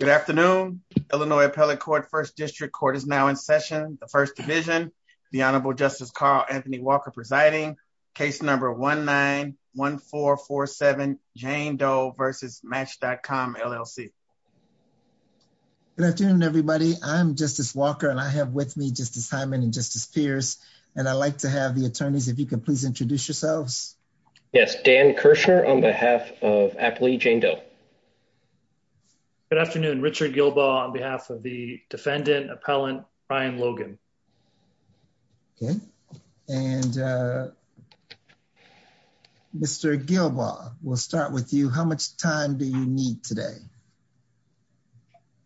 Good afternoon. Illinois Appellate Court First District Court is now in session. The First Division, the Honorable Justice Carl Anthony Walker presiding, case number 1-9-1-4-4-7, Jane Doe versus Match.com, LLC. Good afternoon, everybody. I'm Justice Walker, and I have with me Justice Hyman and Justice Pierce, and I'd like to have the attorneys, if you could please introduce yourselves. Yes, Dan Kirschner on behalf of Appellee Jane Doe. Good afternoon. Richard Gilbaugh on behalf of the defendant, Appellant Brian Logan. Okay. And Mr. Gilbaugh, we'll start with you. How much time do you need today?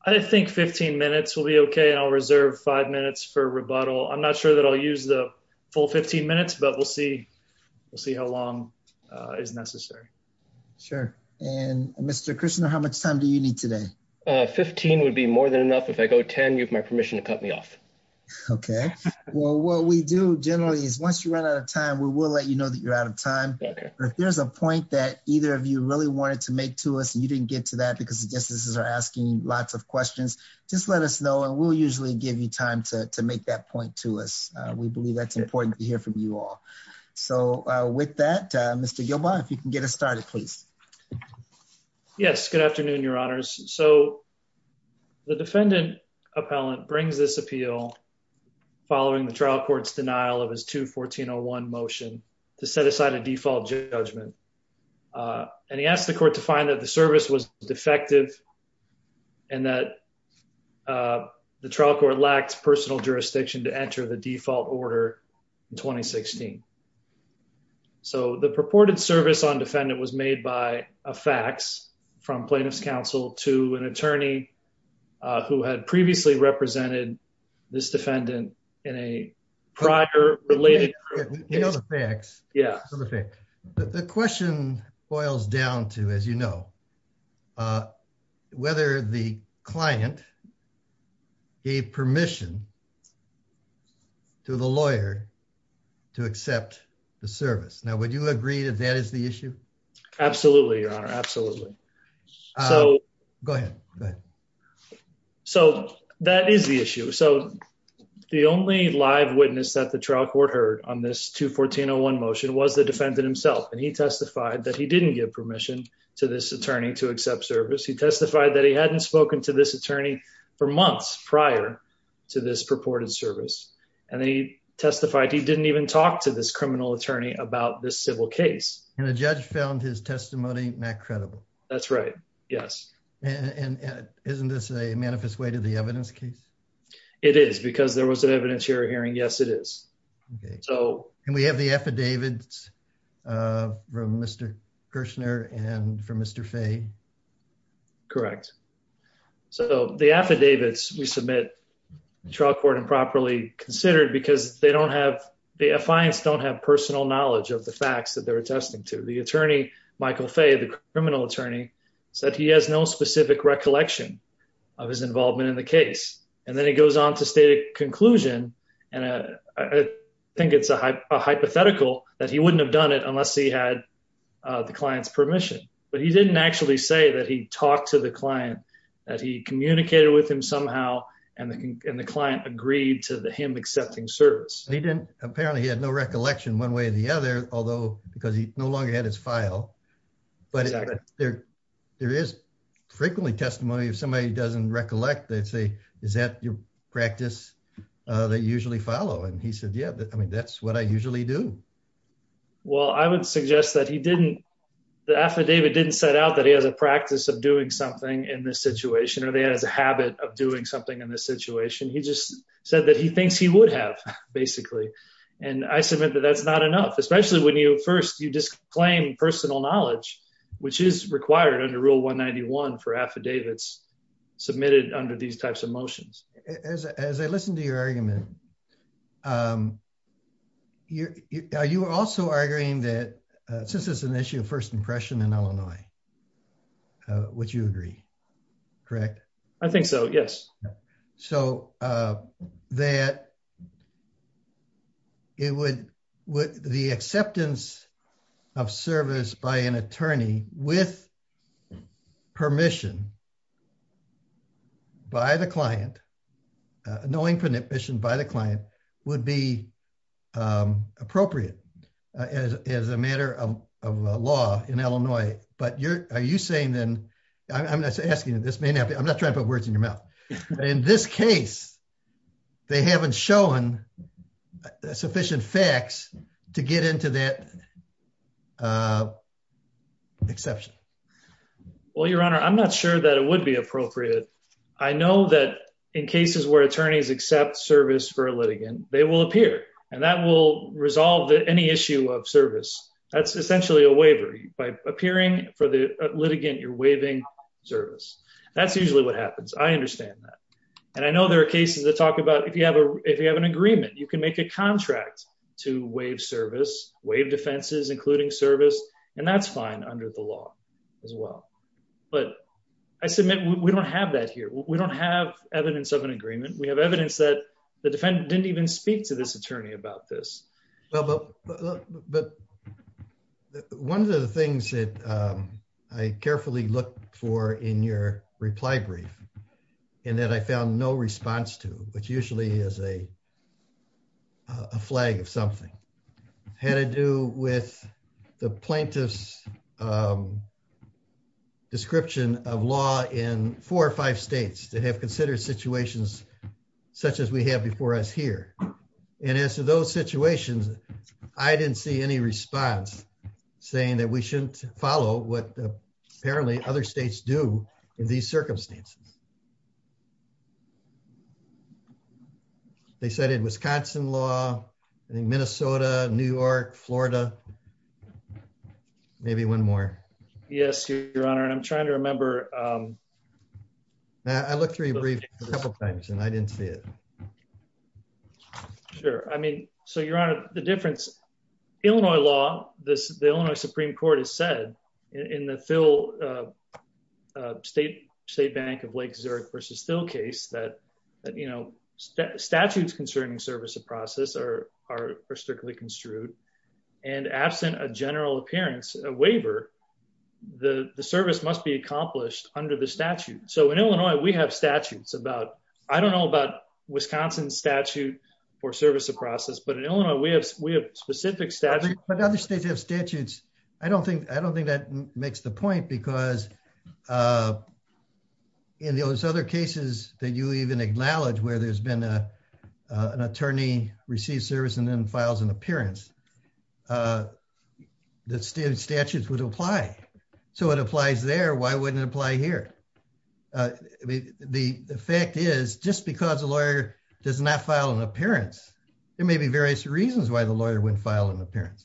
I think 15 minutes will be okay, and I'll reserve five minutes for rebuttal. I'm not sure that I'll use the full 15 minutes, but we'll see how long is necessary. Sure. And Mr. Kirschner, how much time do you need today? 15 would be more than enough. If I go 10, you have my permission to cut me off. Okay. Well, what we do generally is once you run out of time, we will let you know that you're out of time. If there's a point that either of you really wanted to make to us and you didn't get to that because the justices are asking lots of questions, just let us know, and we'll usually give you time to make that point to us. We believe that's important to hear from you all. So with that, Mr. Gilbaugh, if you can get us started, please. Yes. Good afternoon, Your Honors. So the defendant, Appellant, brings this appeal following the trial court's denial of his 2-1401 motion to set aside a default judgment. And he asked the court to find that the service was defective and that the trial lacked personal jurisdiction to enter the default order in 2016. So the purported service on defendant was made by a fax from plaintiff's counsel to an attorney who had previously represented this defendant in a prior related case. The question boils down to, as you know, whether the client gave permission to the lawyer to accept the service. Now, would you agree that that is the issue? Absolutely, Your Honor. Absolutely. Go ahead. So that is the issue. So the only live witness that the trial court heard on this 2-1401 motion was the defendant himself. And he testified that he didn't give permission to this attorney to accept service. He testified that he hadn't spoken to this attorney for months prior to this purported service. And he testified he didn't even talk to this criminal attorney about this civil case. And the judge found his testimony not credible. That's right. Yes. And isn't this a manifest way to the evidence case? It is because there was an evidence hearing. Yes, it is. Okay. And we have the affidavits from Mr. Kirshner and from Mr. Fay. Correct. So the affidavits we submit, the trial court improperly considered because the affiance don't have personal knowledge of the facts that they're attesting to. The attorney, Michael Fay, the criminal attorney, said he has no specific recollection of his involvement in the case. And then he goes on to state a conclusion, and I think it's a hypothetical that he wouldn't have done it unless he had the client's permission. But he didn't actually say that he talked to the client, that he communicated with him somehow, and the client agreed to him accepting service. He didn't. Apparently, he had no recollection one way or the other, because he no longer had his file. But there is frequently testimony. If somebody doesn't recollect, they'd say, is that your practice that you usually follow? And he said, yeah, I mean, that's what I usually do. Well, I would suggest that he didn't, the affidavit didn't set out that he has a practice of doing something in this situation, or they had a habit of doing something in this situation. He just said that he thinks he would have, basically. And I submit that that's not enough, especially when you first you disclaim personal knowledge, which is required under Rule 191 for affidavits submitted under these types of motions. As I listen to your argument, you are also arguing that since it's an issue of first impression in Illinois, would you agree? Correct? I think so, yes. So that it would, the acceptance of service by an attorney with permission by the client, knowing permission by the client would be appropriate as a matter of law in Illinois. But you're, are you saying then, I'm not asking you this, may not be, I'm not trying to put words in your mouth. In this case, they haven't shown sufficient facts to get into that exception. Well, Your Honor, I'm not sure that it would be appropriate. I know that in cases where attorneys accept service for a litigant, they will appear and that will resolve any issue of service. That's essentially a waiver. By appearing for the litigant, you're waiving service. That's usually what happens. I understand that. And I know there are cases that talk about, if you have an agreement, you can make a contract to waive service, waive defenses, including service, and that's fine under the law as well. But I submit we don't have that here. We don't have evidence of an agreement. We have evidence that the defendant didn't even speak to this attorney about this. But one of the things that I carefully looked for in your reply brief, and that I found no response to, which usually is a flag of something, had to do with the plaintiff's of law in four or five states that have considered situations such as we have before us here. And as to those situations, I didn't see any response saying that we shouldn't follow what apparently other states do in these circumstances. They said in Wisconsin law, I think Minnesota, New York, Florida, maybe one more. Yes, Your Honor. And I'm trying to remember. I looked through your brief a couple of times and I didn't see it. Sure. I mean, so Your Honor, the difference, Illinois law, the Illinois Supreme Court has said in the Phil State Bank of Lake Zurich versus Phil case that, you know, statutes concerning service of process are strictly construed. And absent a general appearance, a waiver, the service must be accomplished under the statute. So in Illinois, we have statutes about, I don't know about Wisconsin statute for service of process, but in Illinois, we have specific statutes. But other states have statutes. I don't think that makes the point because in those other cases that you even acknowledge where there's been an attorney receive service and then files an appearance, the statutes would apply. So it applies there. Why wouldn't it apply here? The fact is just because a lawyer does not file an appearance, there may be various reasons why the lawyer wouldn't file an appearance.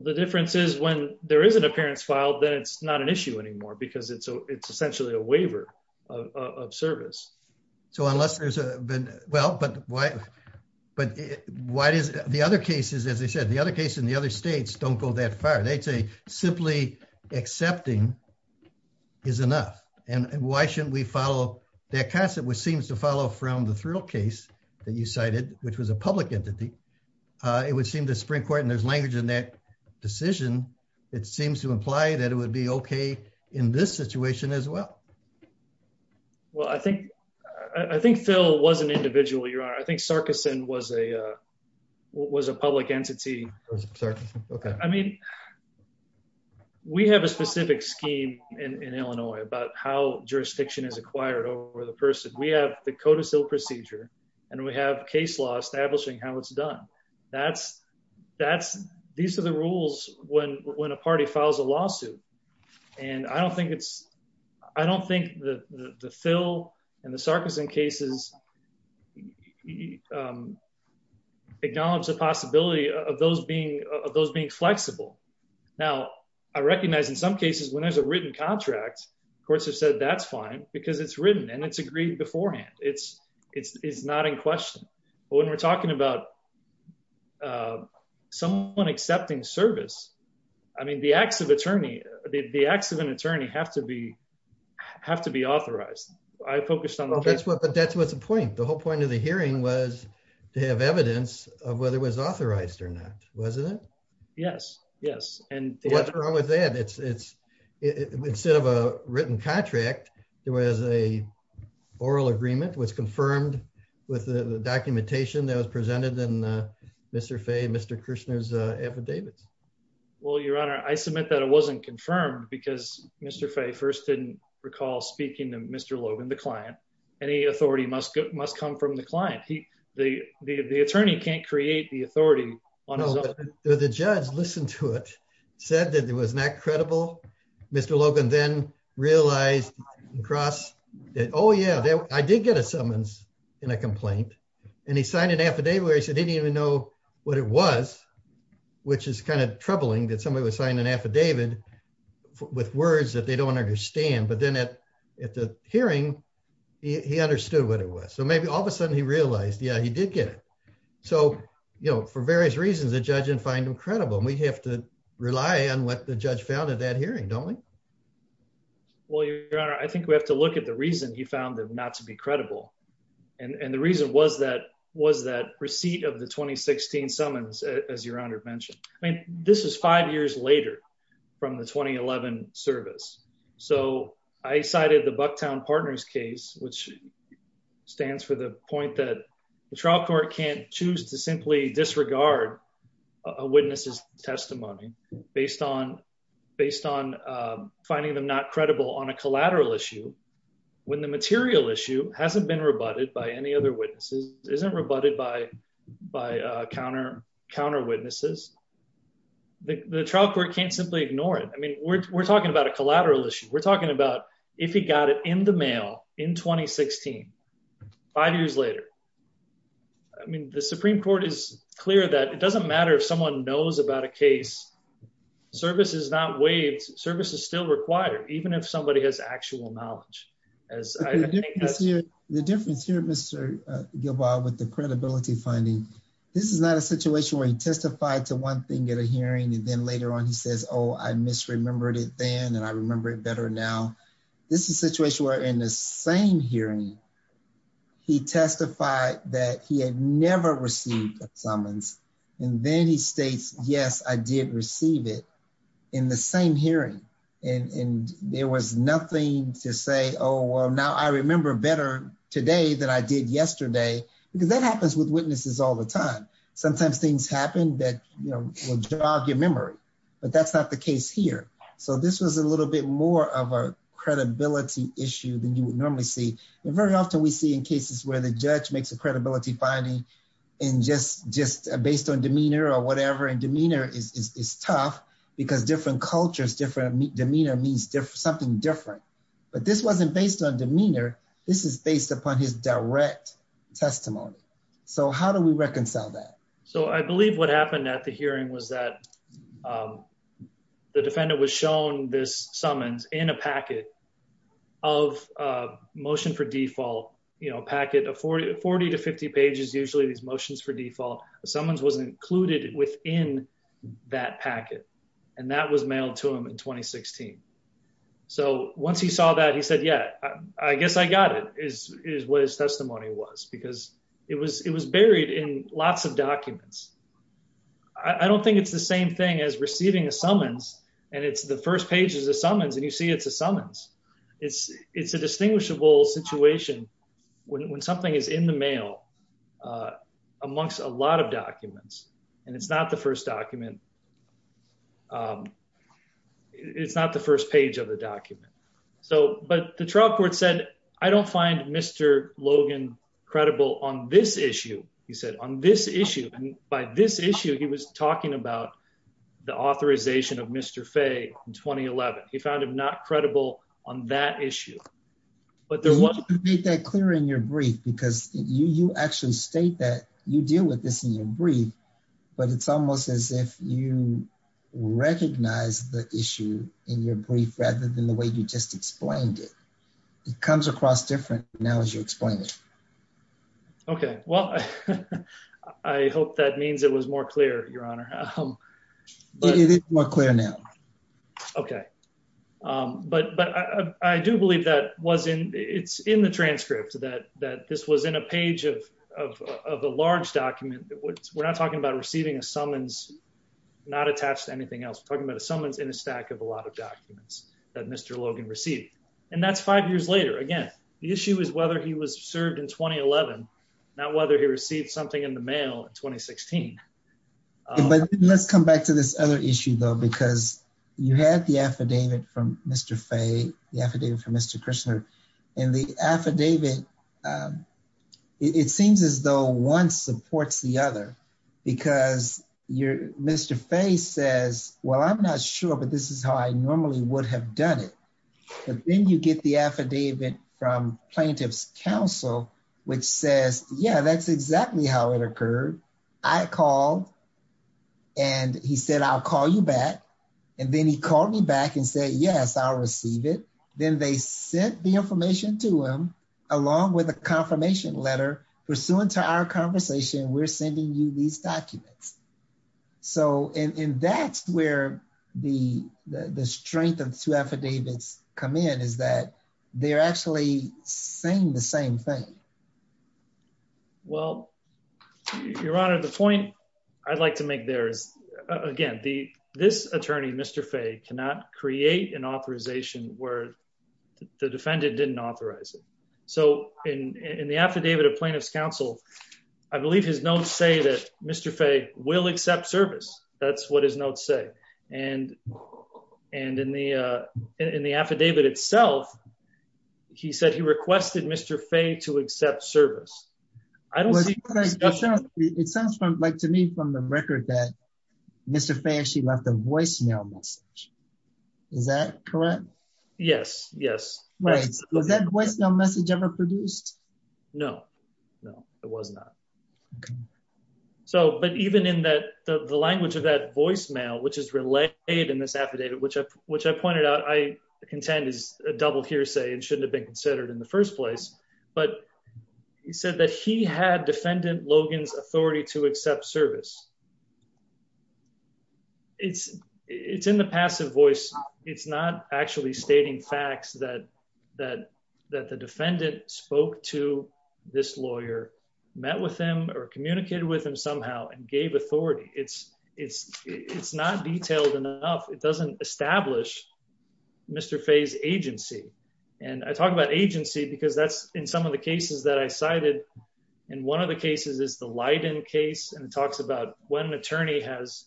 The difference is when there is an appearance filed, then it's not an issue anymore because it's essentially a waiver of service. So unless there's been, well, but why, but why does the other cases, as I said, the other cases in the other states don't go that far. They'd say simply accepting is enough. And why shouldn't we follow that concept which seems to follow from the Thrill case that you cited, which was a public entity. It would seem to spring court and there's language in that decision. It seems to imply that it would be okay in this situation as well. Well, I think Phil was an individual, your honor. I think Sarkison was a public entity. I mean, we have a specific scheme in Illinois about how jurisdiction is acquired over the person. We have the codicil procedure and we have case law establishing how it's done. These are the rules when a party files a lawsuit. And I don't think the Phil and the Sarkison cases acknowledge the possibility of those being flexible. Now, I recognize in some cases, when there's a written contract, courts have said that's fine because it's written and it's not in question. But when we're talking about someone accepting service, I mean, the acts of an attorney have to be authorized. I focused on the case. But that's what's the point. The whole point of the hearing was to have evidence of whether it was authorized or not, wasn't it? Yes, yes. And what's wrong with that? Instead of a written contract, there was a agreement that was confirmed with the documentation that was presented in Mr. Faye, Mr. Kirshner's affidavits. Well, your honor, I submit that it wasn't confirmed because Mr. Faye first didn't recall speaking to Mr. Logan, the client. Any authority must come from the client. The attorney can't create the authority on his own. The judge listened to it, said that it was not Oh, yeah, I did get a summons in a complaint. And he signed an affidavit where he said he didn't even know what it was, which is kind of troubling that somebody would sign an affidavit with words that they don't understand. But then at the hearing, he understood what it was. So maybe all of a sudden he realized, yeah, he did get it. So, you know, for various reasons, the judge didn't find him credible. And we have to rely on what the judge found at that hearing, don't we? Well, your honor, I think we have to look at the reason he found them not to be credible. And the reason was that was that receipt of the 2016 summons, as your honor mentioned. I mean, this is five years later from the 2011 service. So I cited the Bucktown partners case, which stands for the point that the trial court can't choose to simply disregard a witness's testimony based on finding them not credible on a collateral issue, when the material issue hasn't been rebutted by any other witnesses, isn't rebutted by counter witnesses. The trial court can't simply ignore it. I mean, we're talking about a collateral issue. We're talking about if he got it in the mail in 2016, five years later. I mean, the Supreme Court is clear that it service is not waived, service is still required, even if somebody has actual knowledge. The difference here, Mr. Gilbaugh, with the credibility finding, this is not a situation where he testified to one thing at a hearing, and then later on, he says, oh, I misremembered it then and I remember it better now. This is a situation where in the same hearing, he testified that he had never received a summons, and then he states, yes, I did receive it in the same hearing. And there was nothing to say, oh, well, now I remember better today than I did yesterday, because that happens with witnesses all the time. Sometimes things happen that will jog your memory, but that's not the case here. So this was a little bit more of a credibility issue than you would often we see in cases where the judge makes a credibility finding and just based on demeanor or whatever, and demeanor is tough because different cultures, different demeanor means something different. But this wasn't based on demeanor. This is based upon his direct testimony. So how do we reconcile that? So I believe what happened at the hearing was that the defendant was shown this summons in a packet of motion for default packet of 40 to 50 pages, usually these motions for default summons was included within that packet, and that was mailed to him in 2016. So once he saw that, he said, yeah, I guess I got it, is what his testimony was, because it was buried in lots of documents. I don't think it's the same thing as receiving a summons, and it's the first page is a summons, and you see it's a summons. It's a distinguishable situation when something is in the mail amongst a lot of documents, and it's not the first document. It's not the first page of the document. But the trial court said, I don't find Mr. Logan credible on this issue. He said, on this issue, and by this issue, he was talking about the authorization of Mr. Faye in 2011. He found him not credible on that issue. But there was... You made that clear in your brief, because you actually state that you deal with this in your brief, but it's almost as if you recognize the issue in your brief, rather than the way you just explained it. It comes across different now as you explain it. Okay. Well, I hope that means it was more clear, Your Honor. It is more clear now. Okay. But I do believe that it's in the transcript, that this was in a page of a large document. We're not talking about receiving a summons, not attached to anything else. We're talking about a summons in a stack of a lot of documents that Mr. Logan received. And that's five years later. Again, the issue is whether he was served in 2011, not whether he received something in the mail in 2016. But let's come back to this other issue, though, because you had the affidavit from Mr. Faye, the affidavit from Mr. Kushner, and the affidavit, it seems as though one supports the other, because Mr. Faye says, well, I'm not sure, but this is how I normally would have done it. But then you get the affidavit from Plaintiff's Counsel, which says, yeah, that's exactly how it occurred. I called, and he said, I'll call you back. And then he called me back and said, yes, I'll receive it. Then they sent the information to him, along with a confirmation letter, pursuant to our conversation, we're sending you these documents. So, and that's where the strength of two affidavits come in, is that they're actually saying the same thing. Well, Your Honor, the point I'd like to make there is, again, this attorney, Mr. Faye, cannot create an authorization where the defendant didn't authorize it. So, in the affidavit of Plaintiff's Counsel, I believe his notes say that Mr. Faye will accept service. That's what his notes say. And in the affidavit itself, he said he requested Mr. Faye to accept service. I don't see- It sounds to me from the record that Mr. Faye actually left a voicemail message. Is that correct? Yes, yes. Wait, was that voicemail message ever produced? No, no, it was not. Okay. So, but even in that, the language of that voicemail, which is relayed in this affidavit, which I pointed out, I contend is a double hearsay and shouldn't have been considered in the first place. But he said that he had defendant Logan's authority to accept service. It's, it's in the passive voice. It's not actually stating facts that, that, that the defendant spoke to this lawyer, met with him or communicated with him somehow and gave authority. It's, it's, it's not detailed enough. It doesn't establish Mr. Faye's agency. And I talk about agency because that's in some of the cases that I cited. And one of the cases is the Leiden case. And it talks about when an attorney has,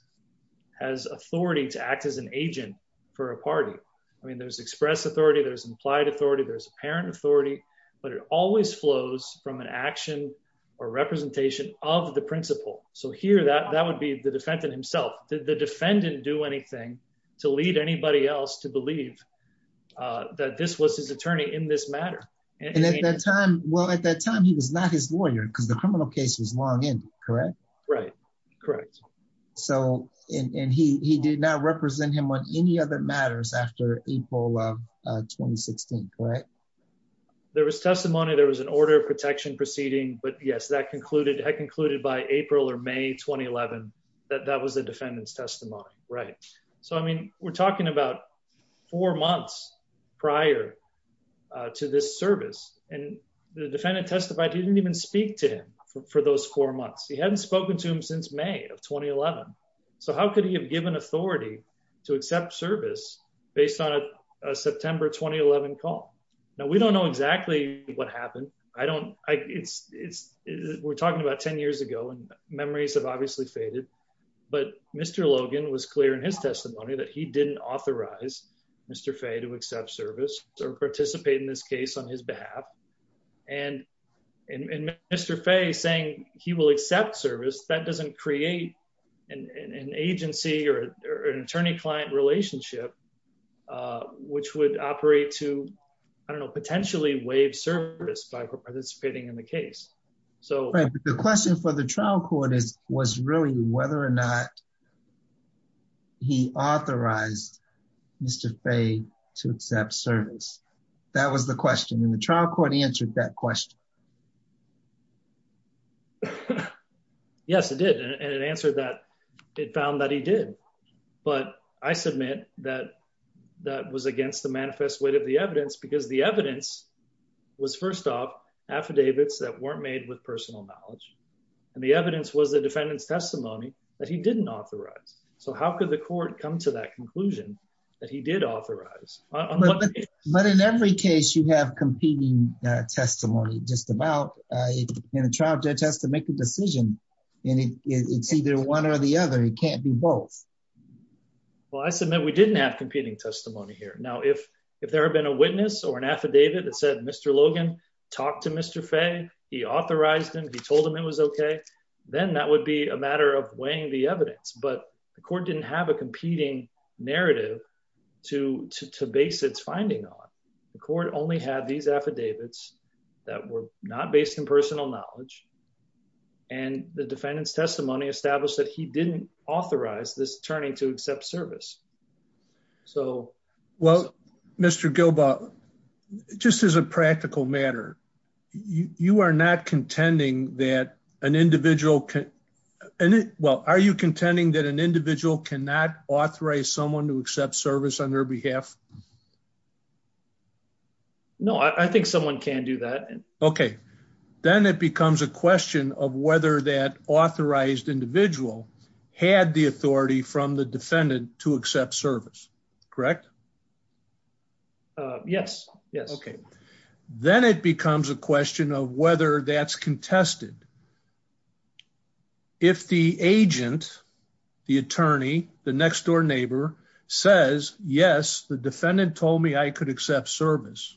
has authority to act as an agent for a party. I mean, there's express authority, there's implied authority, there's apparent authority, but it always flows from an action or representation of the principal. So here that, that would be the defendant himself. Did the defendant do anything to lead anybody else to believe that this was his attorney in this matter? And at that time, well, at that time he was not his lawyer because the criminal case is long in, correct? Right. Correct. So, and he, he did not represent him on any other matters after April of 2016. Correct. There was testimony, there was an order of protection proceeding, but yes, that concluded had concluded by April or May, 2011, that that was the defendant's testimony. Right. So, I mean, we're talking about four months prior to this service and the defendant testified, he didn't even speak to him for those four months. He hadn't spoken to him since May of 2011. So how could he have given authority to accept service based on a September, 2011 call? Now we don't know exactly what happened. I don't, I it's, it's, we're talking about 10 years ago and memories have obviously faded, but Mr. Logan was clear in his testimony that he didn't authorize Mr. Fay to accept service or participate in this case on his behalf. And Mr. Fay saying he will accept service that doesn't create an agency or an attorney-client relationship which would operate to, I don't know, potentially waive service by participating in the case. So the question for the trial court is, was really whether or not he authorized Mr. Fay to accept service. That was the question and the trial court answered that question. Yes, it did. And it answered that it found that he did, but I submit that that was against the manifest weight of the evidence because the evidence was first off affidavits that weren't made with personal knowledge. And the evidence was the defendant's testimony that he didn't authorize. So how could the court come to that conclusion that he did authorize? But in every case you have competing testimony just about in a trial judge has to make a decision and it's either one or the other. It can't be both. Well, I submit we didn't have competing testimony here. Now, if, if there had been a witness or an affidavit that said, Mr. Logan talked to Mr. Fay, he authorized him. He told him it was okay. Then that would be a matter of weighing the evidence, but the court didn't have a competing narrative to, to, to base its finding on. The court only had these affidavits that were not based in personal knowledge and the defendant's testimony established that he didn't authorize this attorney to accept service. So, well, Mr. Gilbaugh, just as a practical matter, you are not contending that an individual can, well, are you contending that an individual cannot authorize someone to accept service on their behalf? No, I think someone can do that. Okay. Then it becomes a question of whether that authorized individual had the authority from the defendant to accept service, correct? Yes. Yes. Okay. Then it becomes a question of whether that's contested. If the agent, the attorney, the next door neighbor says, yes, the defendant told me I could accept service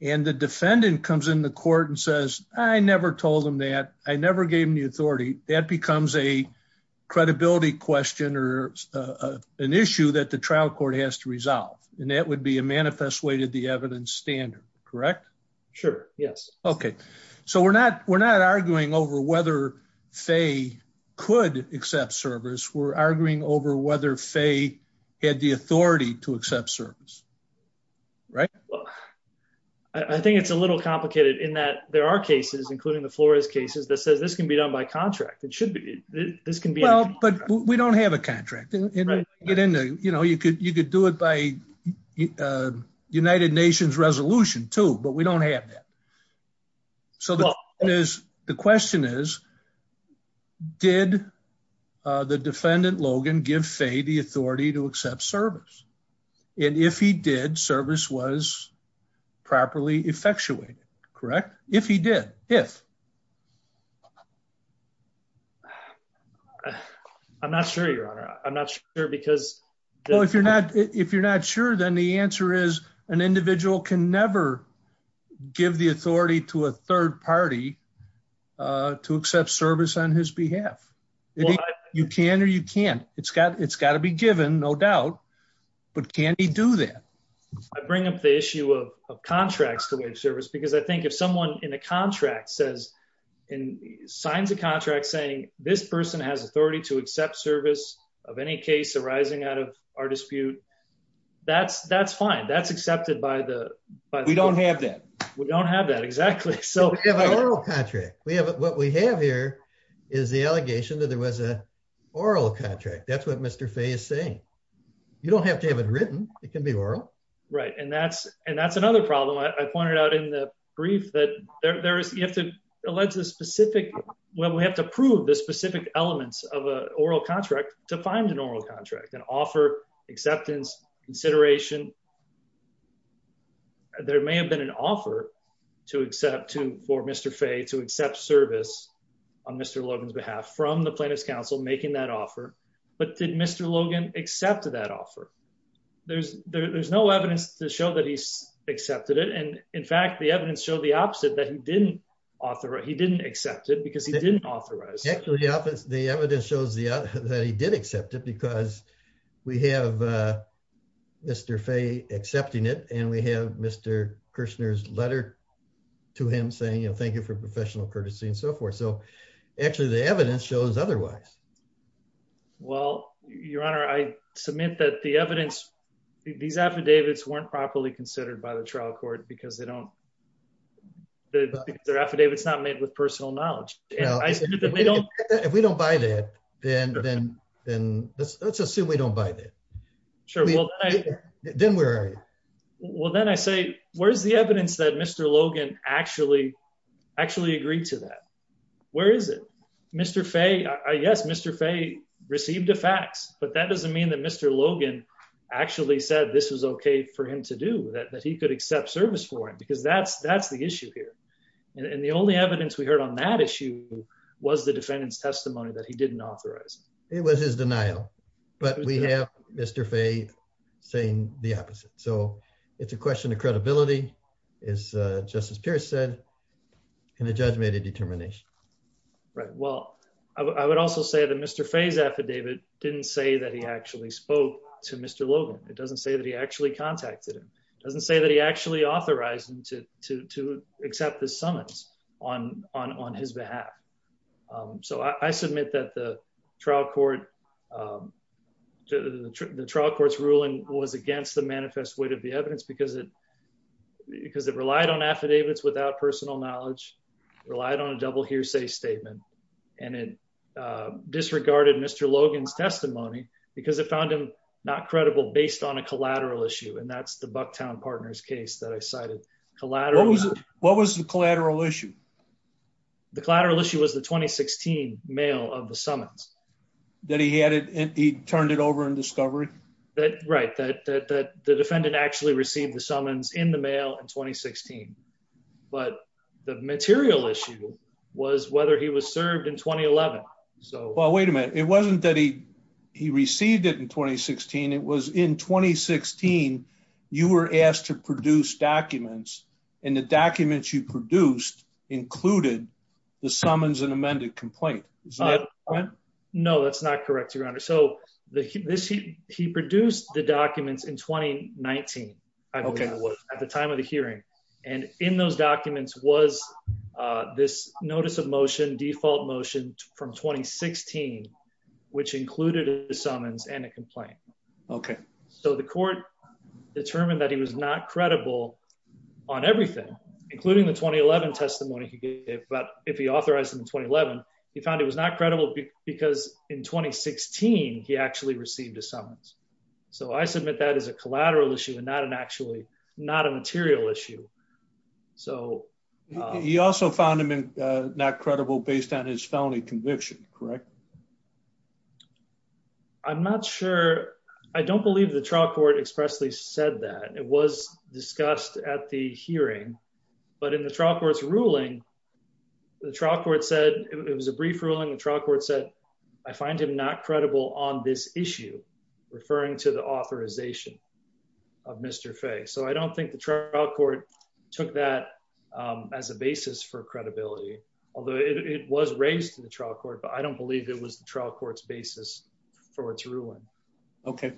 and the defendant comes in the court and says, I never told him that I never gave him the and that would be a manifest way to the evidence standard, correct? Sure. Yes. Okay. So we're not, we're not arguing over whether Faye could accept service. We're arguing over whether Faye had the authority to accept service, right? Well, I think it's a little complicated in that there are cases, including the Flores cases that says this can be done by contract. It should be, this can be, but we don't have a contract, you know, you could, you could do it by United Nations resolution too, but we don't have that. So the question is, did the defendant Logan give Faye the authority to accept service? And if he did service was I'm not sure your honor. I'm not sure because well, if you're not, if you're not sure, then the answer is an individual can never give the authority to a third party to accept service on his behalf. You can, or you can't, it's got, it's got to be given no doubt, but can he do that? I bring up the issue of contracts to wage service, because I think if someone in a contract says in signs of contract saying this person has authority to accept service of any case arising out of our dispute, that's, that's fine. That's accepted by the, but we don't have that. We don't have that exactly. So we have an oral contract. We have, what we have here is the allegation that there was a oral contract. That's what Mr. Faye is saying. You don't have to have it written. It can be oral. Right. And that's, and that's another problem. I believe that there is, you have to allege the specific, well, we have to prove the specific elements of a oral contract to find an oral contract and offer acceptance consideration. There may have been an offer to accept to, for Mr. Faye to accept service on Mr. Logan's behalf from the plaintiff's counsel making that offer. But did Mr. Logan accepted that offer? There's, there's no evidence to show that he's accepted it. And in fact, the evidence showed the opposite, that he didn't authorize, he didn't accept it because he didn't authorize. Actually, the evidence shows that he did accept it because we have Mr. Faye accepting it. And we have Mr. Kirshner's letter to him saying, you know, thank you for professional courtesy and so forth. So actually the evidence shows otherwise. Well, your honor, I submit that the evidence these affidavits weren't properly considered by the trial court because they don't, the affidavits not made with personal knowledge. If we don't buy that, then, then, then let's, let's assume we don't buy that. Sure. Then where are you? Well, then I say, where's the evidence that Mr. Logan actually, actually agreed to that? Where is it? Mr. Faye, I guess Mr. Faye received a fax, but that doesn't mean that Mr. Logan actually said this was okay for him to do that, that he could accept service for him because that's, that's the issue here. And the only evidence we heard on that issue was the defendant's testimony that he didn't authorize. It was his denial, but we have Mr. Faye saying the opposite. So it's a question of credibility is just as didn't say that he actually spoke to Mr. Logan. It doesn't say that he actually contacted him. It doesn't say that he actually authorized him to, to, to accept the summons on, on, on his behalf. So I submit that the trial court, the trial court's ruling was against the manifest weight of the evidence because it, because it relied on affidavits without personal knowledge, relied on a double hearsay statement. And it disregarded Mr. Logan's testimony because it found him not credible based on a collateral issue. And that's the Bucktown partners case that I cited collateral. What was the collateral issue? The collateral issue was the 2016 mail of the summons that he had it. And he turned it over and discovery that right. That, that, the defendant actually received the summons in the mail in 2016, but the material issue was whether he was served in 2011. So wait a minute. It wasn't that he, he received it in 2016. It was in 2016, you were asked to produce documents and the documents you produced included the summons and amended complaint. No, that's not correct. Your honor. So the, this, he, he produced the 2019 at the time of the hearing. And in those documents was this notice of motion default motion from 2016, which included the summons and a complaint. Okay. So the court determined that he was not credible on everything, including the 2011 testimony he gave, but if he authorized him in 2011, he found it was not credible because in 2016, he actually received a summons. So I submit that as a collateral issue and not an actually not a material issue. So he also found him not credible based on his felony conviction. Correct. I'm not sure. I don't believe the trial court expressly said that it was discussed at the hearing, but in the trial court's ruling, the trial court said it was a brief ruling. The trial said, I find him not credible on this issue, referring to the authorization of Mr. Faye. So I don't think the trial court took that as a basis for credibility, although it was raised to the trial court, but I don't believe it was the trial court's basis for its ruling. Okay.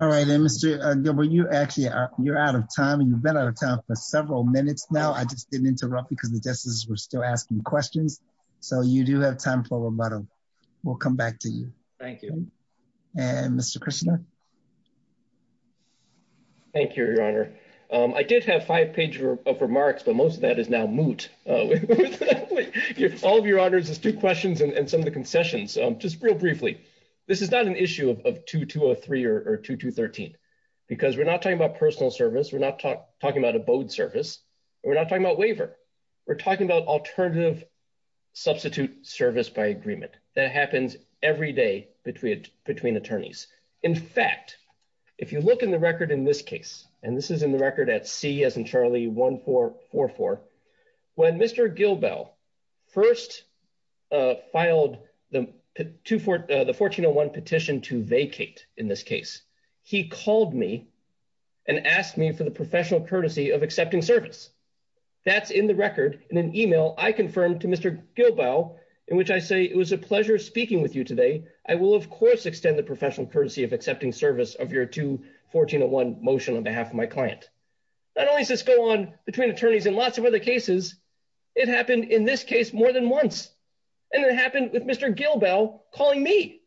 All right. And Mr. Goodwin, you actually are, you're out of time and you've been out of time for several minutes now. I just didn't interrupt because the justices were still asking questions. So you do have time for a rebuttal. We'll come back to you. Thank you. And Mr. Krishna. Thank you, your honor. I did have five pages of remarks, but most of that is now moot. All of your honors, there's two questions and some of the concessions. Just real briefly, this is not an issue of 2203 or 2213, because we're not talking about personal service. We're not talking about a bode service and we're not talking about waiver. We're talking about alternative substitute service by agreement that happens every day between attorneys. In fact, if you look in the record in this case, and this is in the record at C as in Charlie 1444, when Mr. Gilbell first filed the 1401 petition to vacate in this case, he called me and asked me for the professional courtesy of accepting service. That's in the record in an email I confirmed to Mr. Gilbell, in which I say it was a pleasure speaking with you today. I will, of course, extend the professional courtesy of accepting service of your two 1401 motion on behalf of my client. Not only does this go on between attorneys and lots of other cases, it happened in this case more than once. And it happened with Mr. Gilbell calling me.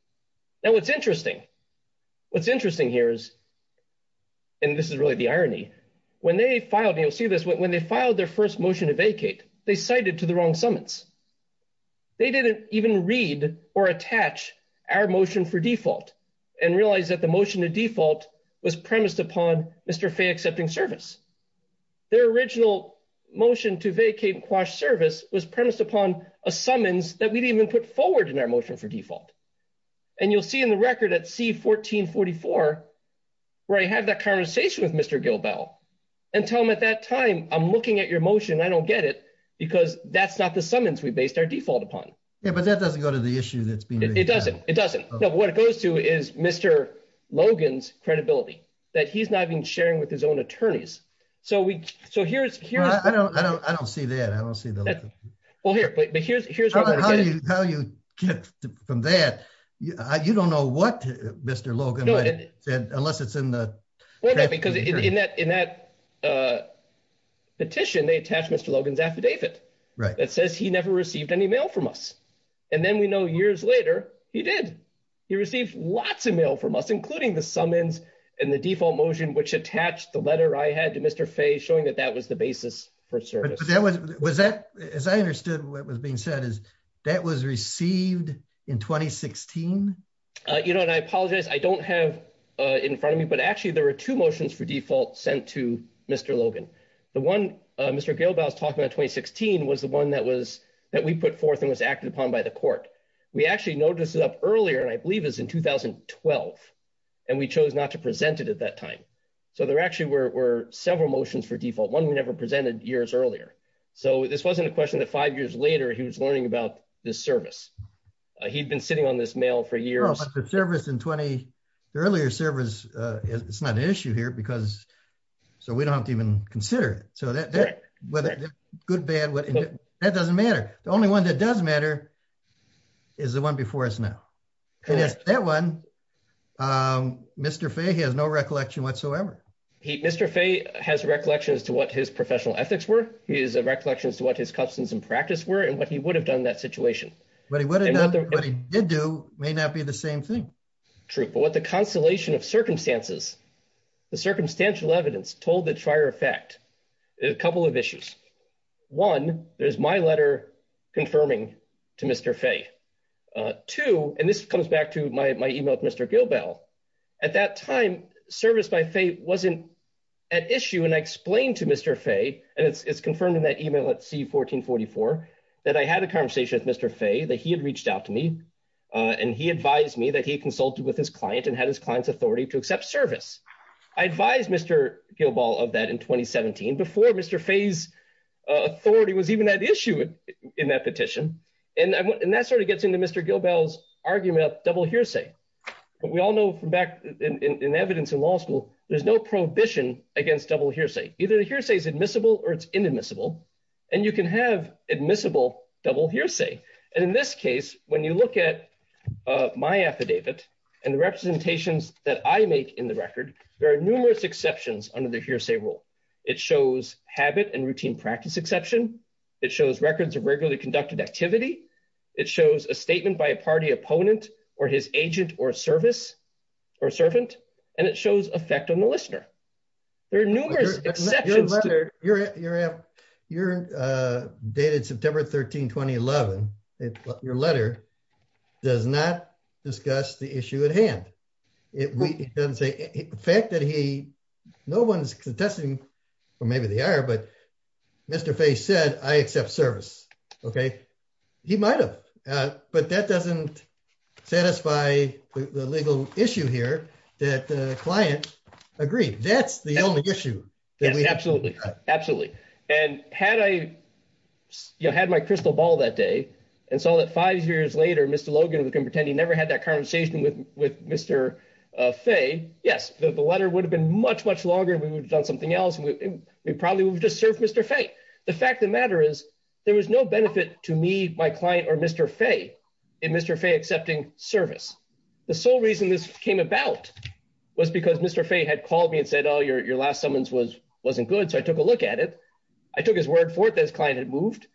Now, it's interesting. What's interesting here is, and this is really the irony, when they filed, and you'll see this, when they filed their first motion to vacate, they cited to the wrong summons. They didn't even read or attach our motion for default and realize that the motion to default was premised upon Mr. Fay accepting service. Their original motion to vacate and quash service was premised upon a summons that we didn't even put forward in our motion for default. And you'll see the record at C1444 where I have that conversation with Mr. Gilbell and tell him at that time, I'm looking at your motion, I don't get it, because that's not the summons we based our default upon. Yeah, but that doesn't go to the issue that's being raised. It doesn't. It doesn't. No, what it goes to is Mr. Logan's credibility, that he's not even sharing with his own attorneys. So here's- I don't see that. I don't see the- Well, here, but here's- How do you get from that? You don't know what Mr. Logan said, unless it's in the- Well, because in that petition, they attached Mr. Logan's affidavit that says he never received any mail from us. And then we know years later, he did. He received lots of mail from us, including the summons and the default motion, which attached the letter I had Mr. Fay showing that that was the basis for service. But that was- Was that- As I understood what was being said, is that was received in 2016? You know, and I apologize. I don't have in front of me, but actually there were two motions for default sent to Mr. Logan. The one Mr. Gilbell was talking about in 2016 was the one that was- that we put forth and was acted upon by the court. We actually noticed it up earlier, and I believe it was in 2012, and we chose not to present it at that time. So there actually were several motions for default, one we never presented years earlier. So this wasn't a question that five years later, he was learning about this service. He'd been sitting on this mail for years. No, but the service in 20- the earlier service, it's not an issue here because- so we don't have to even consider it. So that- whether good, bad, whatever, that doesn't matter. The only one that does matter is the one before us now. Correct. It is that one. Mr. Fay, he has no recollection whatsoever. Mr. Fay has recollections to what his professional ethics were. He has recollections to what his customs and practice were and what he would have done in that situation. What he would have done, what he did do, may not be the same thing. True, but what the constellation of circumstances, the circumstantial evidence told the trier effect, a couple of issues. One, there's my letter confirming to Mr. Fay. Two, and this comes back to my email with Mr. Gilbell. At that time, service by Fay wasn't at issue and I explained to Mr. Fay, and it's confirmed in that email at C1444, that I had a conversation with Mr. Fay, that he had reached out to me and he advised me that he consulted with his client and had his client's authority to accept service. I advised Mr. of that in 2017, before Mr. Fay's authority was even at issue in that petition. And that sort of gets into Mr. Gilbell's argument of double hearsay. But we all know from back in evidence in law school, there's no prohibition against double hearsay. Either the hearsay is admissible or it's inadmissible. And you can have admissible double hearsay. And in this case, when you look at my affidavit and the representations that I make in the record, there are numerous exceptions under the hearsay rule. It shows habit and routine practice exception. It shows records of regularly conducted activity. It shows a statement by a party opponent or his agent or service or servant, and it shows effect on the listener. There are numerous exceptions. Your letter, your date is September 13, 2011. Your letter does not discuss the issue at hand. It doesn't say, the fact that he, no one's contesting, or maybe they are, but Mr. Fay said, I accept service. Okay. He might have, but that doesn't satisfy the legal issue here that the client agreed. That's the only issue. Absolutely. Absolutely. And had I, you know, had my crystal ball that day and saw that five years later, Mr. Logan was going to pretend he never had that conversation with Mr. Fay. Yes. The letter would have been much, much longer. We would have done something else. We probably would have just served Mr. Fay. The fact of the matter is there was no benefit to me, my client or Mr. Fay in Mr. Fay accepting service. The sole reason this came about was because Mr. Fay had called me and said, oh, your last summons wasn't good. So I took a look at it. I took his word for it that his client had moved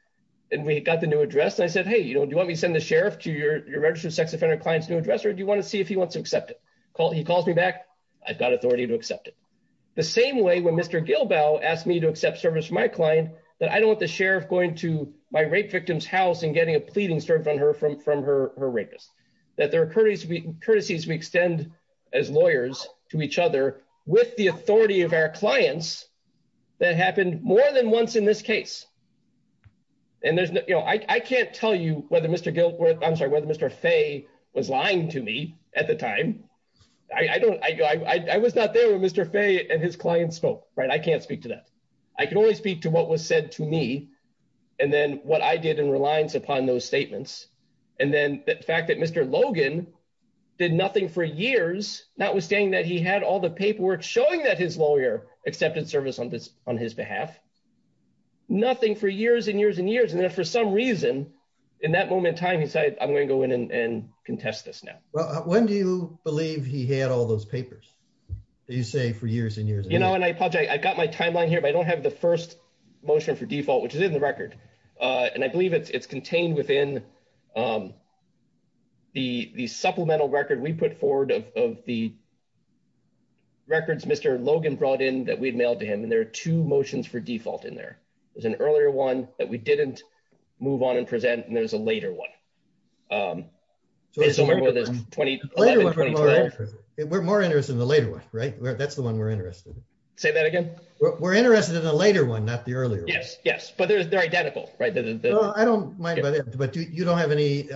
and we got the new address. And I said, hey, you know, do you want me to send the sheriff to your registered sex offender client's new address? Or do you want to see if he wants to accept it? He calls me back. I've got authority to accept it. The same way when Mr. Gilbell asked me to accept service for my client, that I don't want the sheriff going to my rape victim's house and getting a pleading served on her from her rapist. That there are courtesies we extend as lawyers to each other with the authority of our clients that happened more than once in this case. And there's no, you know, I can't tell you whether Mr. Gil, I'm sorry, whether Mr. Fay was lying to me at the time. I don't, I was not there when Mr. Fay and his client spoke, right? I can't speak to that. I can only speak to what was said to me and then what I did in reliance upon those statements. And then the fact that Mr. Logan did nothing for years, notwithstanding that he had all the paperwork showing that his lawyer accepted service on his behalf, nothing for years and years and years. And then for some reason, in that moment in time, he said, I'm going to go in and contest this now. Well, when do you believe he had all those papers that you say for years and years? You know, and I apologize. I got my timeline here, but I don't have the first motion for default, which is in the record. And I believe it's contained within the supplemental record we put forward of the records Mr. Logan brought in that we'd mailed to him. And there are two motions for default in there. There's an earlier one that we didn't move on and present. And there's a later one. We're more interested in the later one, right? That's the one we're interested in. Say that again? We're interested in the later one, not the earlier one. Yes, yes. But they're identical, right? I don't mind, but you don't have any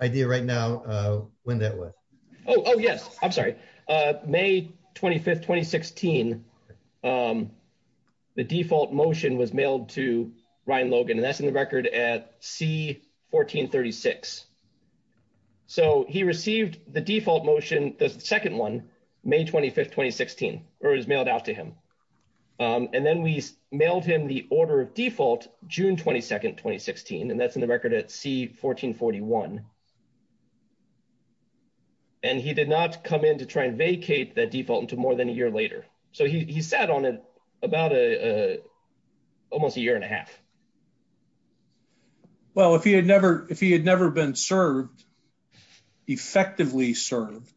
idea right now when that was. Oh, yes. I'm sorry. May 25, 2016, the default motion was mailed to Ryan Logan, and that's in the record at C1436. So he received the default motion, the second one, May 25, 2016, or it was mailed out to him. And then we mailed him the order of default, June 22, 2016, and that's in the record at C1441. And he did not come in to try and vacate that default until more than a year later. So he sat on it about almost a year and a half. Well, if he had never been served, effectively served,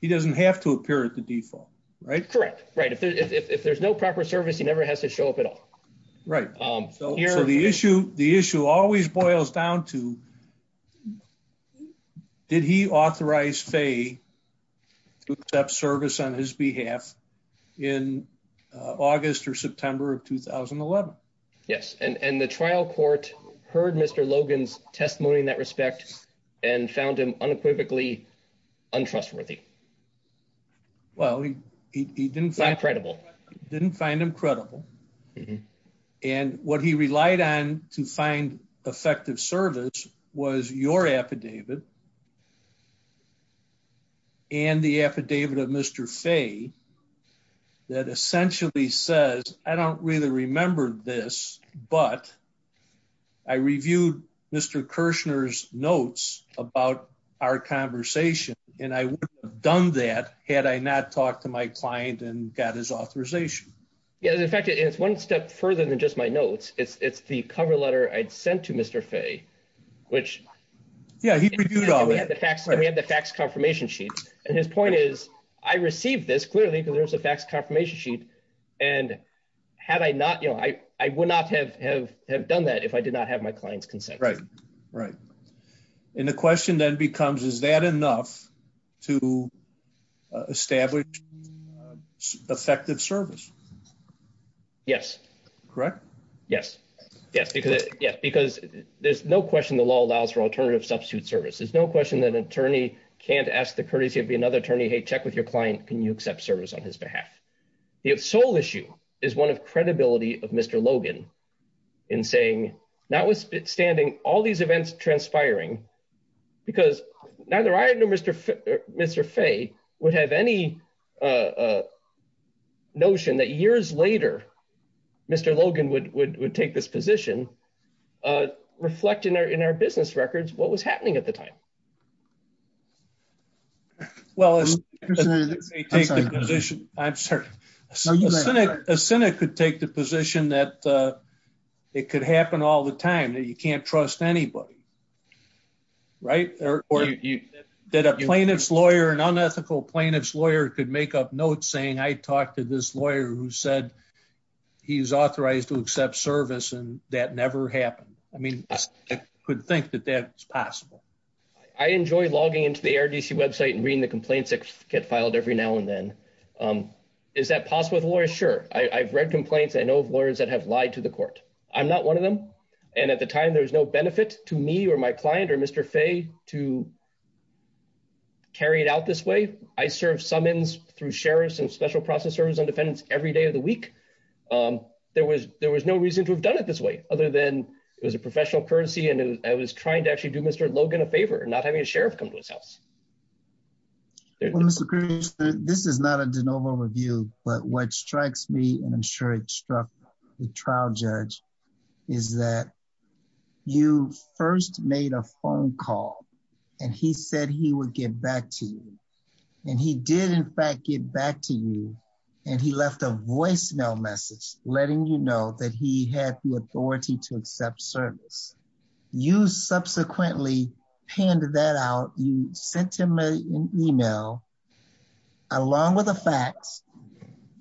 he doesn't have to appear at the default, right? Correct. Right. If there's no proper service, he never has to show up at all. Right. So the issue always boils down to, did he authorize Faye to accept service on his behalf in August or September of 2011? Yes. And the trial court heard Mr. Logan's testimony in that respect and found him unequivocally untrustworthy. Well, he didn't find him credible. And what he relied on to find effective service was your affidavit and the affidavit of Mr. Faye that essentially says, I don't really remember this, but I reviewed Mr. Kirshner's notes about our conversation. And I would have done that had I not talked to my client and got his authorization. Yes. In fact, it's one step further than just my notes. It's the cover letter I'd sent to Mr. Faye, which... Yeah, he reviewed all that. We have the fax confirmation sheet. And his point is, I received this clearly because there's a fax confirmation sheet. And had I not, I would not have done that if I did not have my client's consent. Right. Right. And the question then becomes, is that enough to establish effective service? Yes. Correct? Yes. Yes. Because there's no question the law allows for alternative substitute service. There's no question that an attorney can't ask the courtesy of another attorney, hey, check with your client, can you accept service on his behalf? The sole issue is one of credibility of Mr. Logan in saying, notwithstanding all these years later, Mr. Logan would take this position, reflect in our business records, what was happening at the time? Well, a cynic could take the position that it could happen all the time, that you can't trust anybody, right? Or that a plaintiff's lawyer, an unethical plaintiff's lawyer could make up this lawyer who said he's authorized to accept service and that never happened. I mean, I could think that that's possible. I enjoy logging into the ARDC website and reading the complaints that get filed every now and then. Is that possible with lawyers? Sure. I've read complaints. I know of lawyers that have lied to the court. I'm not one of them. And at the time there was no benefit to me or my client or Mr. to carry it out this way. I serve summons through sheriffs and special process service on defendants every day of the week. There was no reason to have done it this way other than it was a professional courtesy and I was trying to actually do Mr. Logan a favor and not having a sheriff come to his house. Well, Mr. Cruz, this is not a de novo review, but what strikes me and struck the trial judge is that you first made a phone call and he said he would get back to you and he did in fact get back to you and he left a voicemail message letting you know that he had the authority to accept service. You subsequently handed that out. You sent him an email along with facts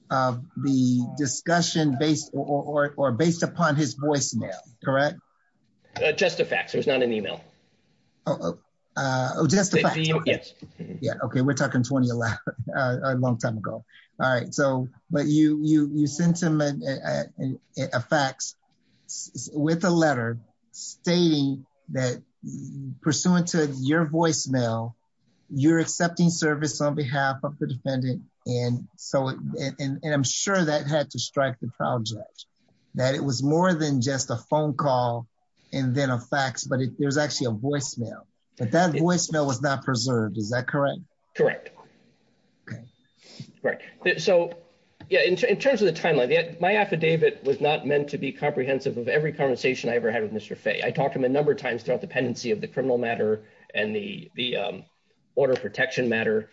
of the discussion based or based upon his voicemail, correct? Just a fax. There's not an email. Oh, just a fax. Yes. Yeah. Okay. We're talking 20 a long time ago. All right. So, but you sent him a fax with a letter stating that pursuant to your voicemail, you're accepting service on behalf of the defendant. And so, and I'm sure that had to strike the trial judge that it was more than just a phone call and then a fax, but there's actually a voicemail, but that voicemail was not preserved. Is that correct? Correct. Okay. Right. So yeah, in terms of the timeline, my affidavit was not meant to be comprehensive of every conversation I ever had with Mr. Fay. I talked to him a number of times throughout the pendency of the criminal matter and the order protection matter.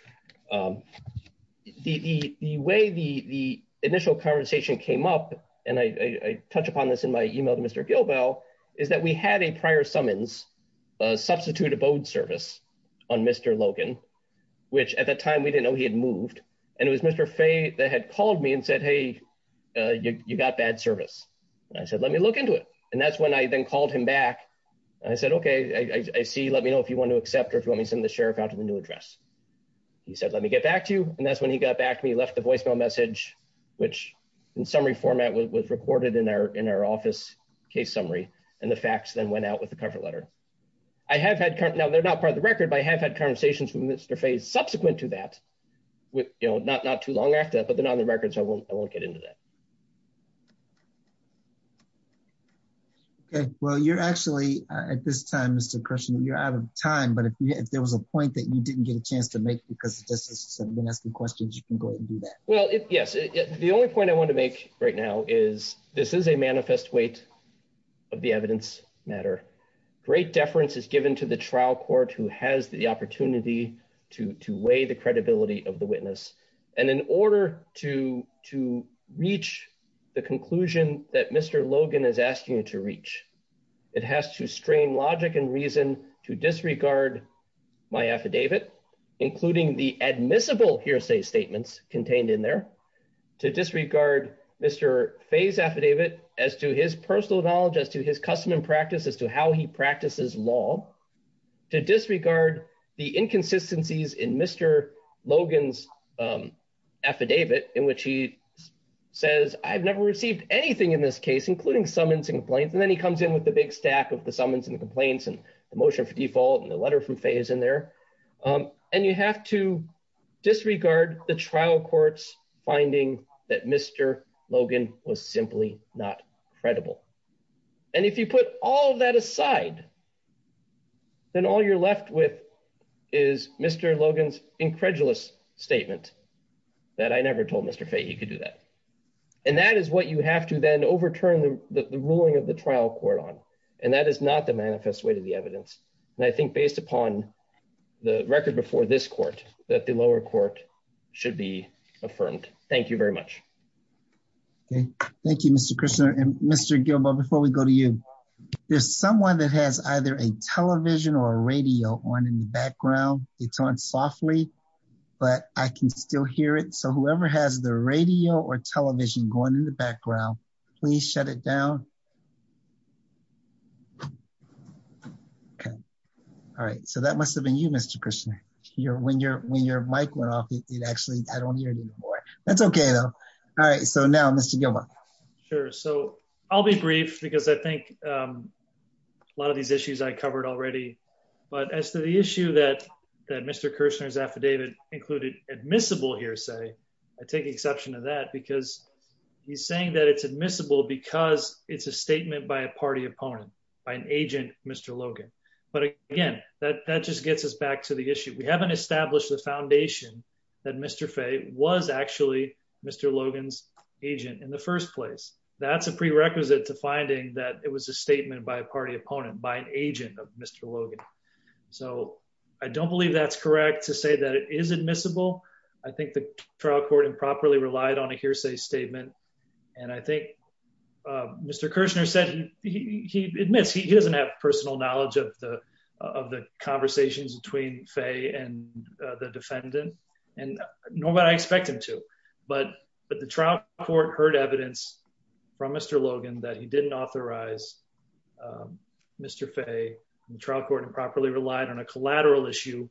The way the initial conversation came up and I touch upon this in my email to Mr. Gilbell is that we had a prior summons, a substitute abode service on Mr. Logan, which at that time we didn't know he had moved. And it was Mr. Fay that had called me and said, Hey, you got bad service. And I said, let me look into it. And that's when I then called him back. And I said, okay, I see. Let me know if you want to accept, or if you want me to send the sheriff out to the new address, he said, let me get back to you. And that's when he got back to me, left the voicemail message, which in summary format was recorded in our, in our office case summary. And the facts then went out with the cover letter. I have had, now they're not part of the record, but I have had conversations with Mr. Fay subsequent to that with, you know, not, not too long after that, but then on the records, I won't, I won't get into that. Okay. Well, you're actually at this time, Mr. Christian, you're out of time, but if there was a point that you didn't get a chance to make, because this is someone asking questions, you can go ahead and do that. Well, yes. The only point I want to make right now is this is a manifest weight of the evidence matter. Great deference is given to the trial court who has the opportunity to, to weigh the credibility of the witness. And in order to, to reach the conclusion that Mr. Logan is asking you to reach, it has to strain logic and reason to disregard my affidavit, including the admissible hearsay statements contained in there to disregard Mr. Fay's affidavit as to his personal knowledge, as to his custom and practice, as to how he practices law to disregard the inconsistencies in Mr. Logan's affidavit in which he says, I've never received anything in this case, including summons and complaints. And then he comes in with the big stack of the summons and the complaints and the motion for default and the letter from Fay is in there. And you have to disregard the trial courts finding that Mr. Logan was simply not credible. And if you put all of that aside, then all you're left with is Mr. Logan's incredulous statement that I never told Mr. Fay he could do that. And that is what you have to then overturn the ruling of the trial court on. And that is not the manifest way to the evidence. And I think based upon the record before this should be affirmed. Thank you very much. Okay. Thank you, Mr. Krishna and Mr. Gilbert, before we go to you, there's someone that has either a television or a radio on in the background. It's on softly, but I can still hear it. So whoever has the radio or television going in the background, please shut it down. Okay. All right. So that must have been you, Mr. Krishna. When your, when your mic went off, it actually, I don't hear you anymore. That's okay though. All right. So now Mr. Gilbert. Sure. So I'll be brief because I think a lot of these issues I covered already, but as to the issue that, that Mr. Kirshner's affidavit included admissible hearsay, I take exception to that because he's saying that it's admissible because it's a statement by a party opponent by an agent, Mr. Logan. But again, that, that just gets us back to the issue. We haven't established the foundation that Mr. Fay was actually Mr. Logan's agent in the first place. That's a prerequisite to finding that it was a statement by a party opponent, by an agent of Mr. Logan. So I don't believe that's correct to say that it is admissible. I think the trial court improperly relied on a hearsay statement. And I think Mr. Kirshner said, he admits he doesn't have personal knowledge of the, of the conversations between Fay and the defendant and nobody I expect him to, but, but the trial court heard evidence from Mr. Logan that he didn't authorize Mr. Fay and the trial court improperly relied on a collateral issue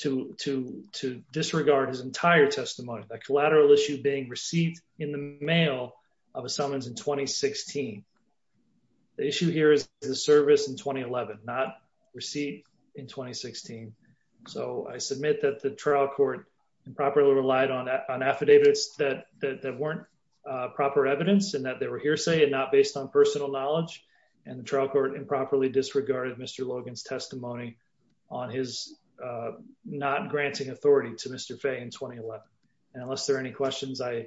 to, to, to disregard his entire testimony. That collateral issue being received in the mail of a summons in 2016. The issue here is the service in 2011, not receipt in 2016. So I submit that the trial court improperly relied on, on affidavits that, that, that weren't proper evidence and that they were hearsay and not based on personal knowledge. And the trial court improperly disregarded Mr. Logan's testimony on his, uh, not granting authority to Mr. Fay in 2011. And unless there are any questions, I,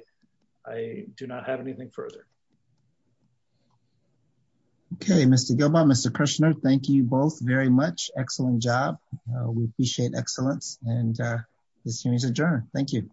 I do not have anything further. Okay. Mr. Gilbaugh, Mr. Kirshner, thank you both very much. Excellent job. We appreciate excellence and, uh, this hearing is adjourned. Thank you.